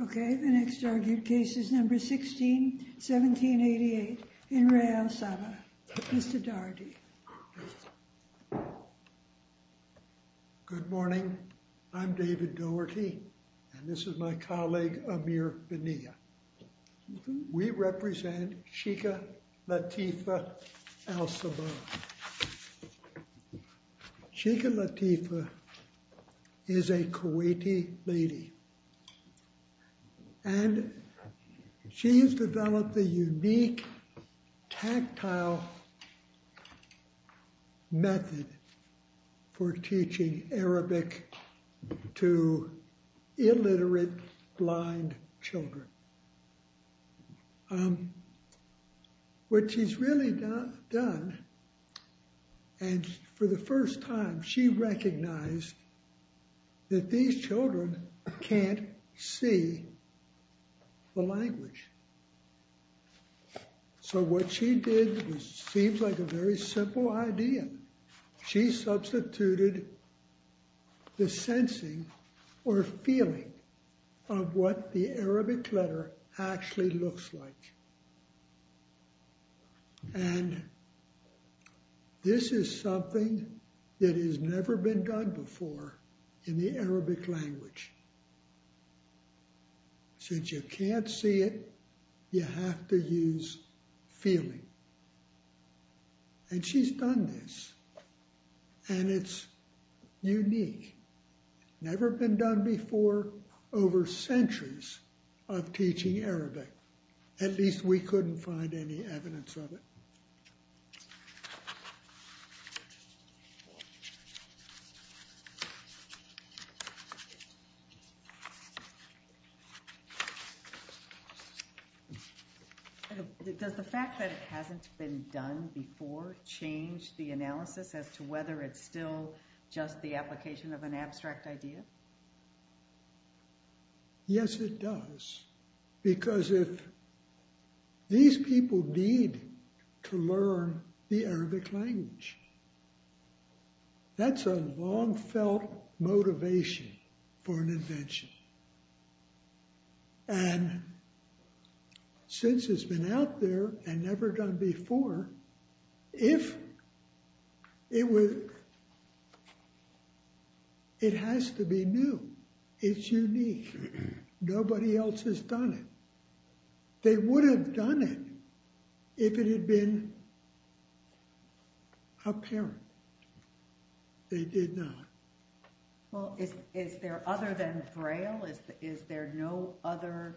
Okay, the next argued case is number 16, 1788 in Re Alsabah. Mr. Daugherty Good morning, I'm David Daugherty, and this is my colleague Amir Benia. We represent Sheikha Latifa Alsabah. Sheikha Latifa is a Kuwaiti lady, and she has developed a unique tactile method for teaching Arabic to illiterate blind children. What she's really done, and for the first time, she recognized that these children can't see the language. So what she did seems like a very simple idea. She substituted the sensing or feeling of what the Arabic letter actually looks like. And this is something that has never been done before in the Arabic language. Since you can't see it, you have to use feeling. And she's done this, and it's unique. Never been done before over centuries of teaching Arabic. At least we couldn't find any evidence of it. Does the fact that it hasn't been done before change the analysis as to whether it's still just the application of an abstract idea? Yes, it does. Because if these people need to learn the Arabic language, that's a long felt motivation for an invention. And since it's been out there and never done before, if it was, it has to be new. It's unique. Nobody else has done it. They would have done it if it had been apparent. They did not. Well, is there other than Braille? Is there no other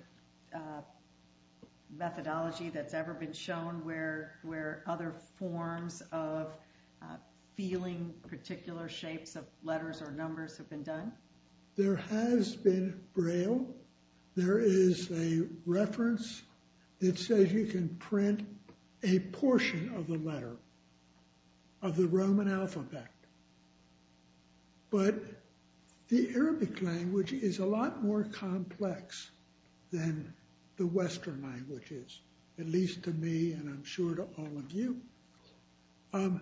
methodology that's ever been shown where other forms of feeling particular shapes of letters or numbers have been done? There has been Braille. There is a reference that says you can print a portion of the letter of the Roman alphabet. But the Arabic language is a lot more complex than the Western languages, at least to me and I'm sure to all of you. To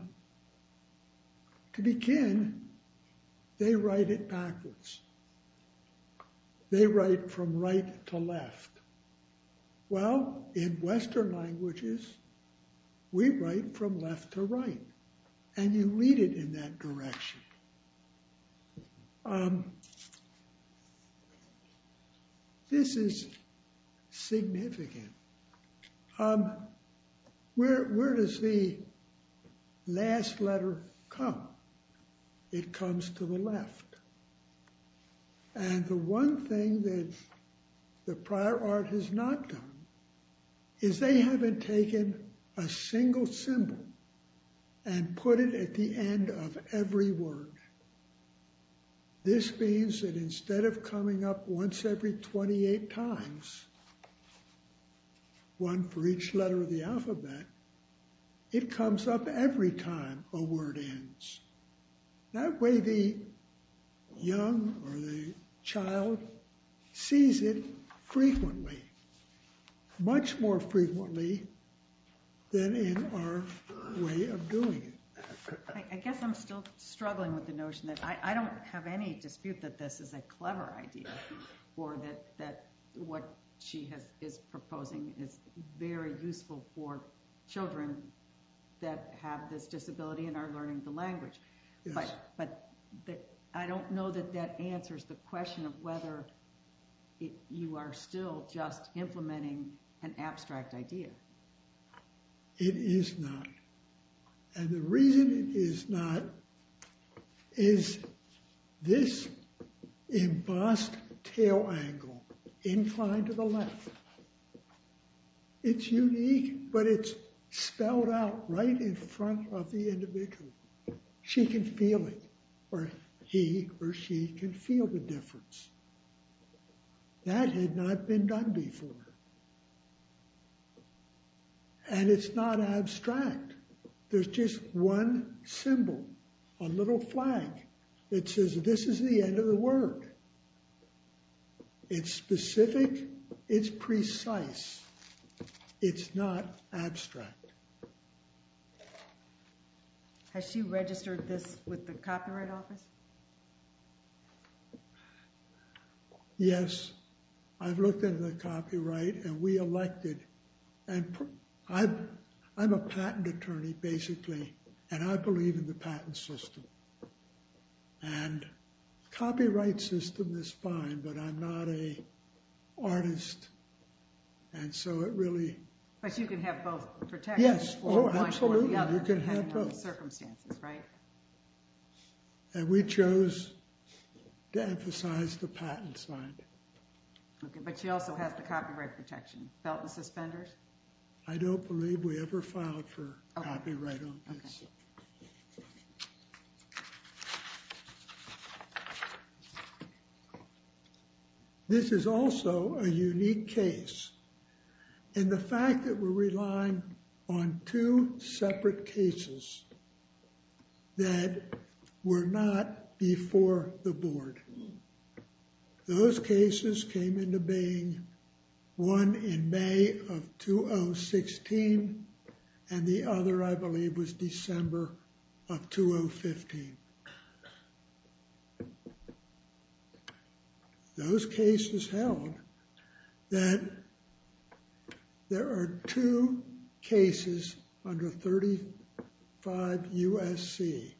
begin, they write it backwards. They write from right to left. Well, in Western languages, we write from left to right and you read it in that direction. This is significant. Where does the last letter come? It comes to the left. And the one thing that the prior art has not done is they haven't taken a single symbol and put it at the end of every word. This means that instead of coming up once every 28 times, one for each letter of the alphabet, it comes up every time a word ends. That way the young or the child sees it frequently, much more frequently than in our way of doing it. I guess I'm still struggling with the notion that I don't have any dispute that this is a clever idea or that what she is proposing is very useful for children that have this disability and are learning the language. But I don't know that that answers the question of whether you are still just implementing an abstract idea. It is not. And the reason it is not is this embossed tail angle inclined to the left. It's unique, but it's spelled out right in front of the individual. She can feel it or he or she can feel the difference. That had not been done before. And it's not abstract. There's just one symbol, a little flag that says this is the end of the word. It's specific. It's precise. It's not abstract. Has she registered this with the Copyright Office? Yes, I've looked into the copyright and we elected. And I'm a patent attorney, basically, and I believe in the patent system. And copyright system is fine, but I'm not a artist. And so it really... But you can have both protections. Yes. Oh, absolutely. You can have both. Under certain circumstances, right? And we chose to emphasize the patent side. Okay, but she also has the copyright protection. Felt and suspenders? I don't believe we ever filed for copyright on this. Okay. This is also a unique case. And the fact that we're relying on two separate cases that were not before the board. Those cases came into being one in May of 2016 and the other, I believe, was December of 2015. Those cases held that there are two cases under 35 U.S.C.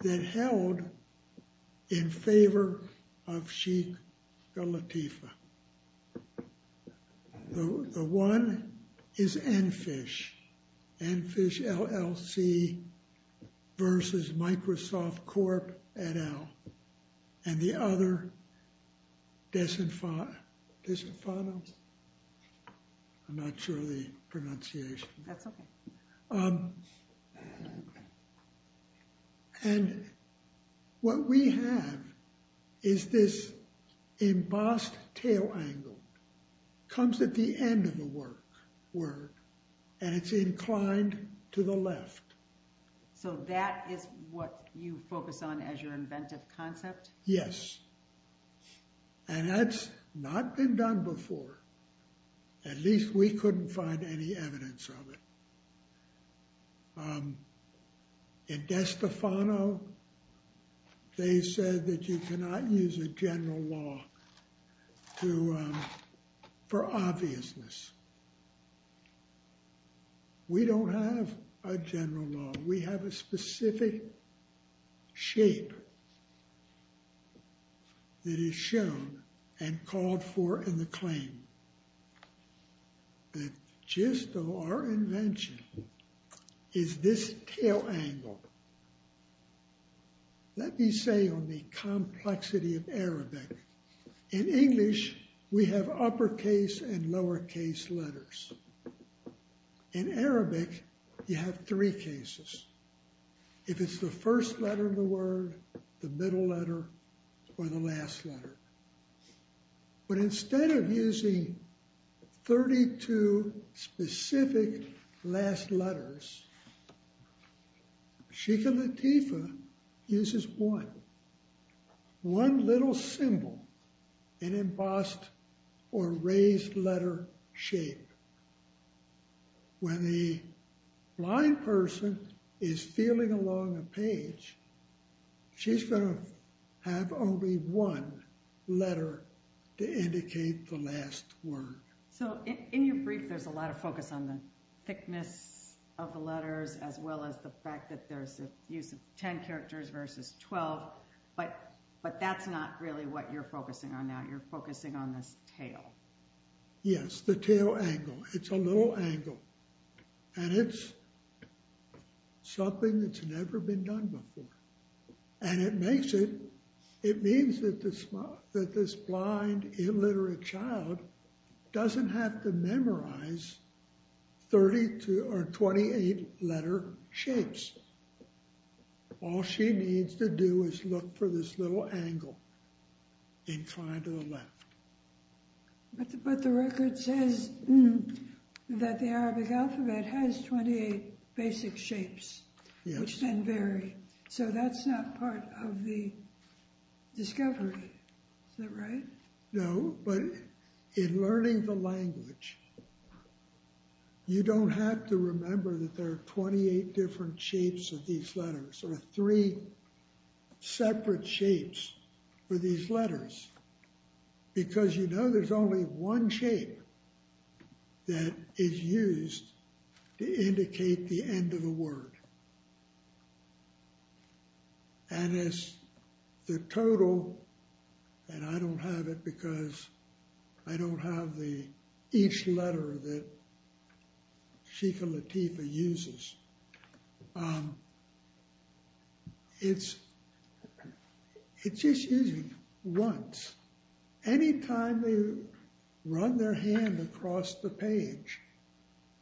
that held in favor of Sheikha Latifa. The one is EnFish. EnFish LLC versus Microsoft Corp et al. And the other, Desenfano. I'm not sure of the pronunciation. That's okay. And what we have is this embossed tail angle. It comes at the end of the word and it's inclined to the left. So that is what you focus on as your inventive concept? Yes. And that's not been done before. At least we couldn't find any evidence of it. In Desenfano, they said that you cannot use a general law for obviousness. We don't have a general law. We have a specific shape that is shown and called for in the claim. The gist of our invention is this tail angle. Let me say on the complexity of Arabic. In English, we have uppercase and lowercase letters. In Arabic, you have three cases. If it's the first letter of the word, the middle letter, or the last letter. But instead of using 32 specific last letters, Sheikha Latifa uses one. One little symbol in embossed or raised letter shape. When the blind person is feeling along a page, she's going to have only one letter to indicate the last word. So in your brief, there's a lot of focus on the thickness of the letters as well as the fact that there's a use of 10 characters versus 12. But that's not really what you're focusing on now. You're focusing on this tail. Yes, the tail angle. It's a little angle. And it's something that's never been done before. And it makes it, it means that this blind illiterate child doesn't have to memorize 32 or 28 letter shapes. All she needs to do is look for this little angle inclined to the left. But the record says that the Arabic alphabet has 28 basic shapes, which then vary. So that's not part of the discovery. Is that right? No, but in learning the language, you don't have to remember that there are 28 different shapes of these letters or three separate shapes for these letters because you know there's only one shape that is used to indicate the end of the word. And as the total, and I don't have it because I don't have the, each letter that Sheikha Latifa uses. It's just using once. Anytime they run their hand across the page,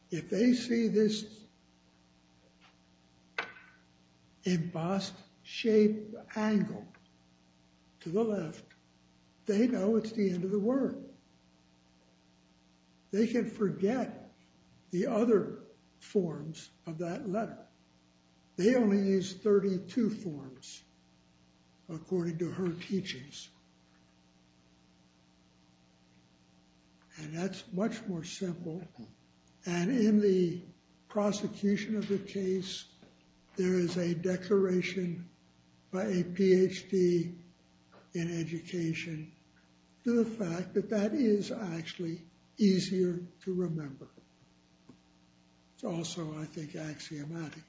if they see this embossed shape angle to the left, they know it's the end of the word. They can forget the other forms of that letter. They only use 32 forms according to her teachings. And that's much more simple. And in the prosecution of the case, there is a declaration by a PhD in education to the fact that that is actually easier to remember. It's also, I think, axiomatic.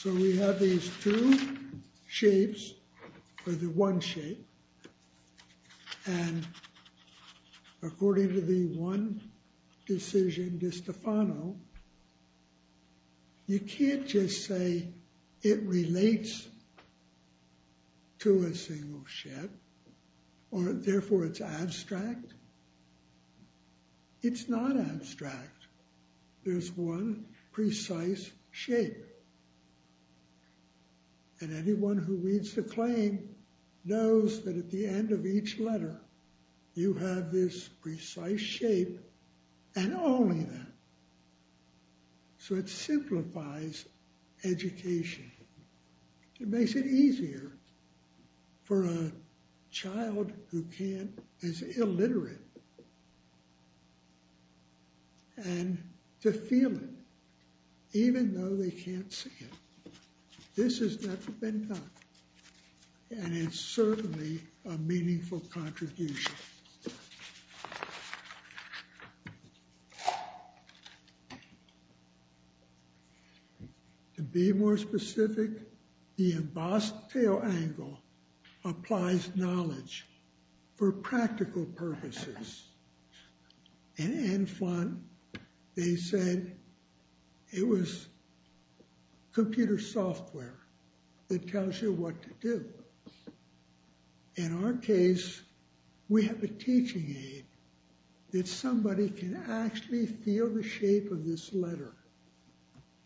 So we have these two shapes or the one shape. And according to the one decision de Stefano, you can't just say it relates to a single shape or therefore it's abstract. It's not abstract. There's one precise shape. And anyone who reads the claim knows that at the end of each letter, you have this precise shape. And only that. So it simplifies education. It makes it easier for a child who is illiterate and to feel it, even though they can't see it. This has never been done. And it's certainly a meaningful contribution. To be more specific, the embossed tail angle applies knowledge for practical purposes. And in front, they said it was computer software that tells you what to do. In our case, we have a teaching aid that somebody can actually feel the shape of this letter.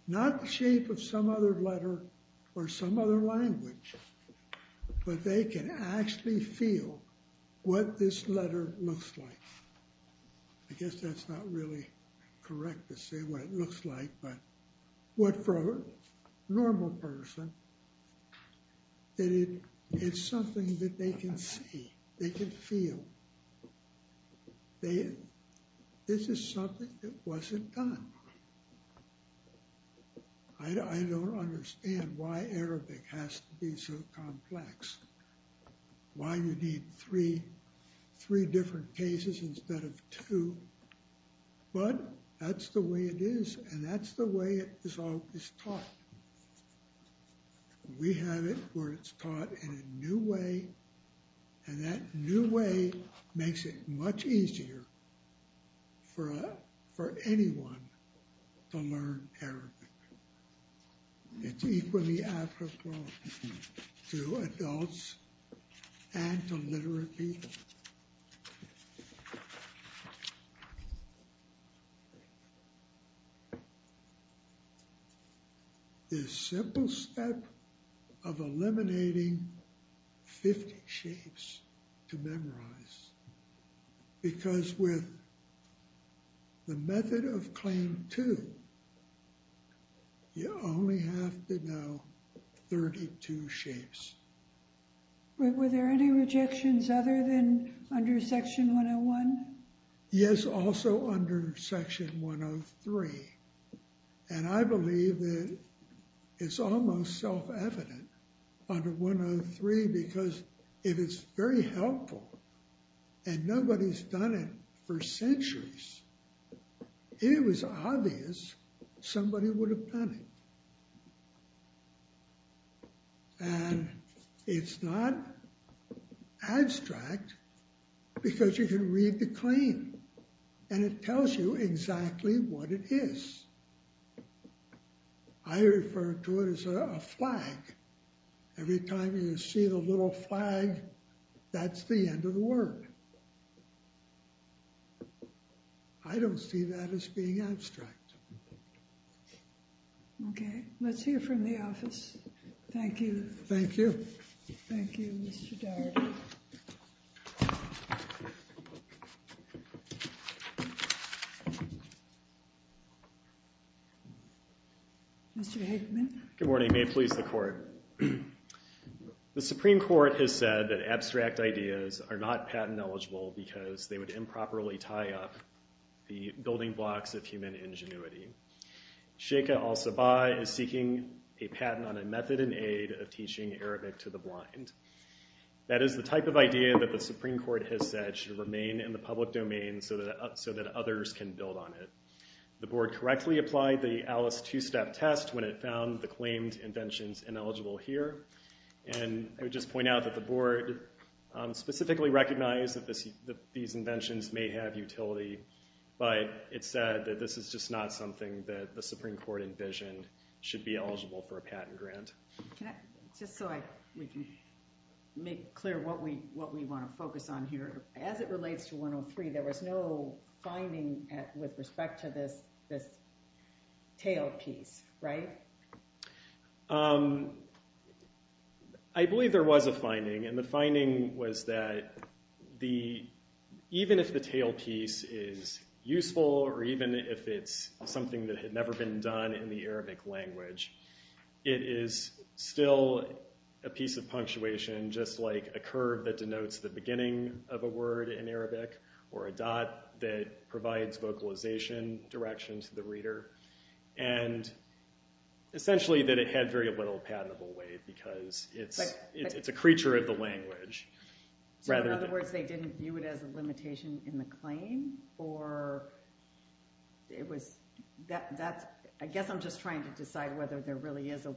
Not the shape of some other letter or some other language, but they can actually feel what this letter looks like. I guess that's not really correct to say what it looks like, but what for a normal person that it's something that they can see, they can feel. This is something that wasn't done. I don't understand why Arabic has to be so complex. Why you need three different cases instead of two. But that's the way it is, and that's the way it is taught. We have it where it's taught in a new way, and that new way makes it much easier for anyone to learn Arabic. It's equally applicable to adults and to literate people. This simple step of eliminating 50 shapes to memorize, because with the method of claim two, you only have to know 32 shapes. Were there any rejections other than under section 101? Yes, also under section 103. And I believe that it's almost self-evident under 103 because if it's very helpful and nobody's done it for centuries, it was obvious somebody would have done it. And it's not abstract because you can read the claim and it tells you exactly what it is. I refer to it as a flag. Every time you see the little flag, that's the end of the word. I don't see that as being abstract. Okay, let's hear from the office. Thank you. Thank you. Thank you, Mr. Doherty. Thank you. Mr. Hageman. Good morning. May it please the court. The Supreme Court has said that abstract ideas are not patent eligible because they would improperly tie up the building blocks of human ingenuity. Sheikha al-Sabah is seeking a patent on a method and aid of teaching Arabic to the blind. That is the type of idea that the Supreme Court has said should remain in the public domain so that others can build on it. The board correctly applied the ALICE two-step test when it found the claimed inventions ineligible here. And I would just point out that the board specifically recognized that these inventions may have utility, but it said that this is just not something that the Supreme Court envisioned should be eligible for a patent grant. Just so we can make clear what we want to focus on here, as it relates to 103, there was no finding with respect to this tailpiece, right? I believe there was a finding, and the finding was that even if the tailpiece is useful or even if it's something that had never been done in the Arabic language, it is still a piece of punctuation, just like a curve that denotes the beginning of a word in Arabic or a dot that provides vocalization direction to the reader, and essentially that it had very little patentable weight because it's a creature of the language. So in other words, they didn't view it as a limitation in the claim? I guess I'm just trying to decide whether there really is a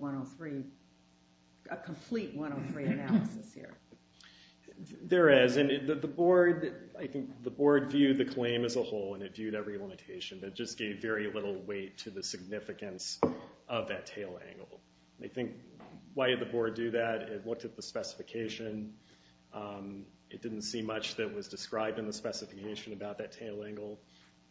complete 103 analysis here. There is, and I think the board viewed the claim as a whole, and it viewed every limitation, but it just gave very little weight to the significance of that tail angle. I think why did the board do that? It looked at the specification. It didn't see much that was described in the specification about that tail angle.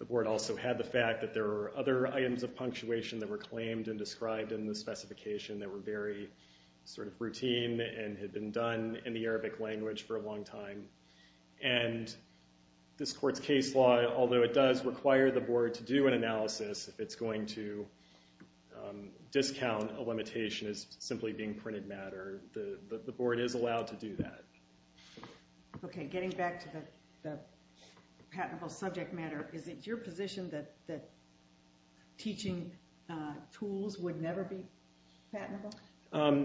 The board also had the fact that there were other items of punctuation that were claimed and described in the specification that were very sort of routine and had been done in the Arabic language for a long time, and this court's case law, although it does require the board to do an analysis, if it's going to discount a limitation as simply being printed matter, the board is allowed to do that. Okay, getting back to the patentable subject matter, is it your position that teaching tools would never be patentable?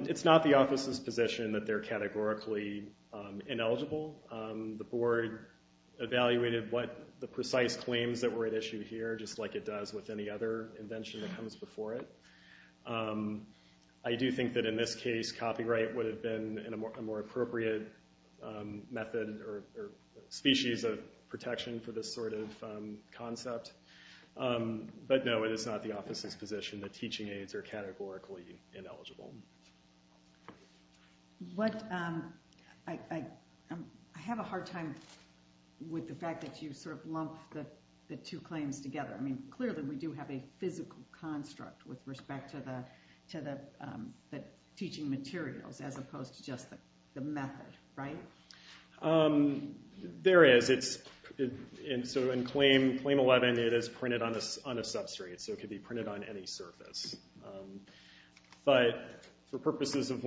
It's not the office's position that they're categorically ineligible. The board evaluated the precise claims that were at issue here just like it does with any other invention that comes before it. I do think that in this case, copyright would have been a more appropriate method or species of protection for this sort of concept. But no, it is not the office's position that teaching aids are categorically ineligible. I have a hard time with the fact that you sort of lump the two claims together. I mean, clearly we do have a physical construct with respect to the teaching materials, as opposed to just the method, right? There is. So in Claim 11, it is printed on a substrate, so it could be printed on any surface. But for purposes of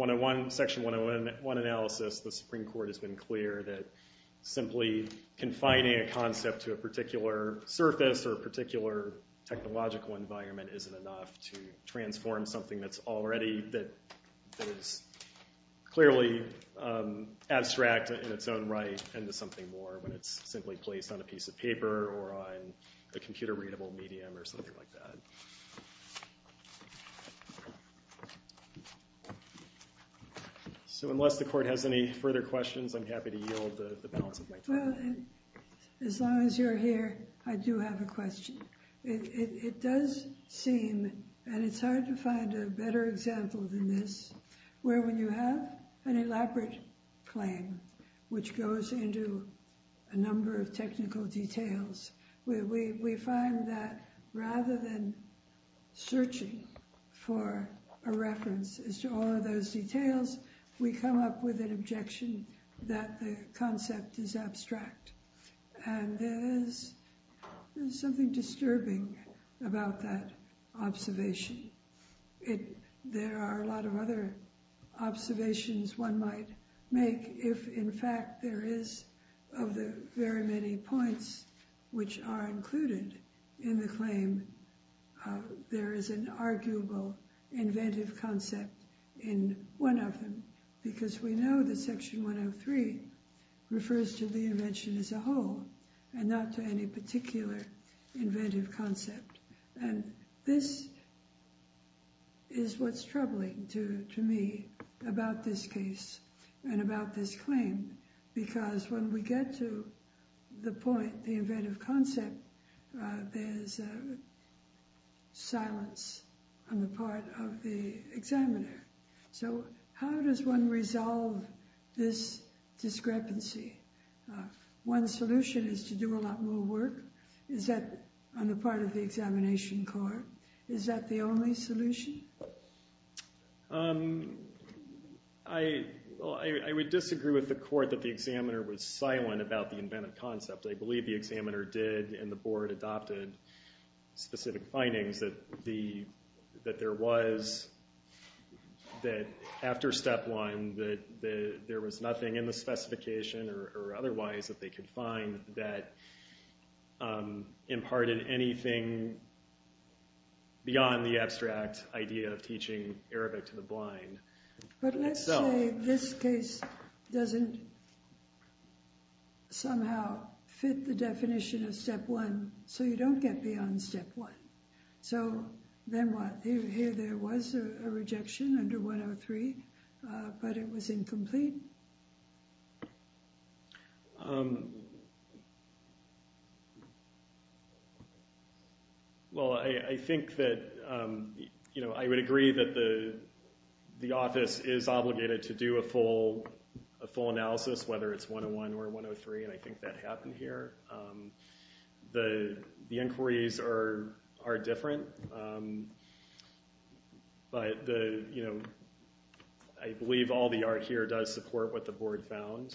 Section 101 analysis, the Supreme Court has been clear that simply confining a concept to a particular surface or a particular technological environment isn't enough to transform something that's already, that is clearly abstract in its own right, into something more when it's simply placed on a piece of paper or on a computer-readable medium or something like that. So unless the Court has any further questions, I'm happy to yield the balance of my time. Well, as long as you're here, I do have a question. It does seem, and it's hard to find a better example than this, where when you have an elaborate claim, which goes into a number of technical details, we find that rather than searching for a reference as to all of those details, we come up with an objection that the concept is abstract. And there is something disturbing about that observation. There are a lot of other observations one might make if in fact there is, of the very many points which are included in the claim, there is an arguable inventive concept in one of them, because we know that Section 103 refers to the invention as a whole and not to any particular inventive concept. And this is what's troubling to me about this case and about this claim, because when we get to the point, the inventive concept, there's silence on the part of the examiner. So how does one resolve this discrepancy? One solution is to do a lot more work on the part of the examination court. Is that the only solution? I would disagree with the court that the examiner was silent about the inventive concept. I believe the examiner did and the board adopted specific findings that there was, that after step one, that there was nothing in the specification or otherwise that they could find that imparted anything beyond the abstract idea of teaching Arabic to the blind. But let's say this case doesn't somehow fit the definition of step one, so you don't get beyond step one. So then what? Here there was a rejection under 103, but it was incomplete? Well, I think that I would agree that the office is obligated to do a full analysis, whether it's 101 or 103, and I think that happened here. The inquiries are different, but I believe all the art here does support what the board found.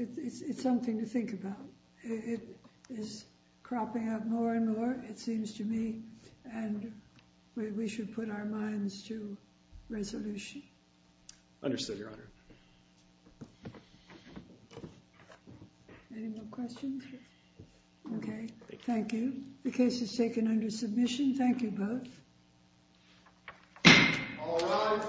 It's something to think about. It is cropping up more and more, it seems to me, and we should put our minds to resolution. Understood, Your Honor. Any more questions? Okay, thank you. The case is taken under submission. Thank you both. All rise.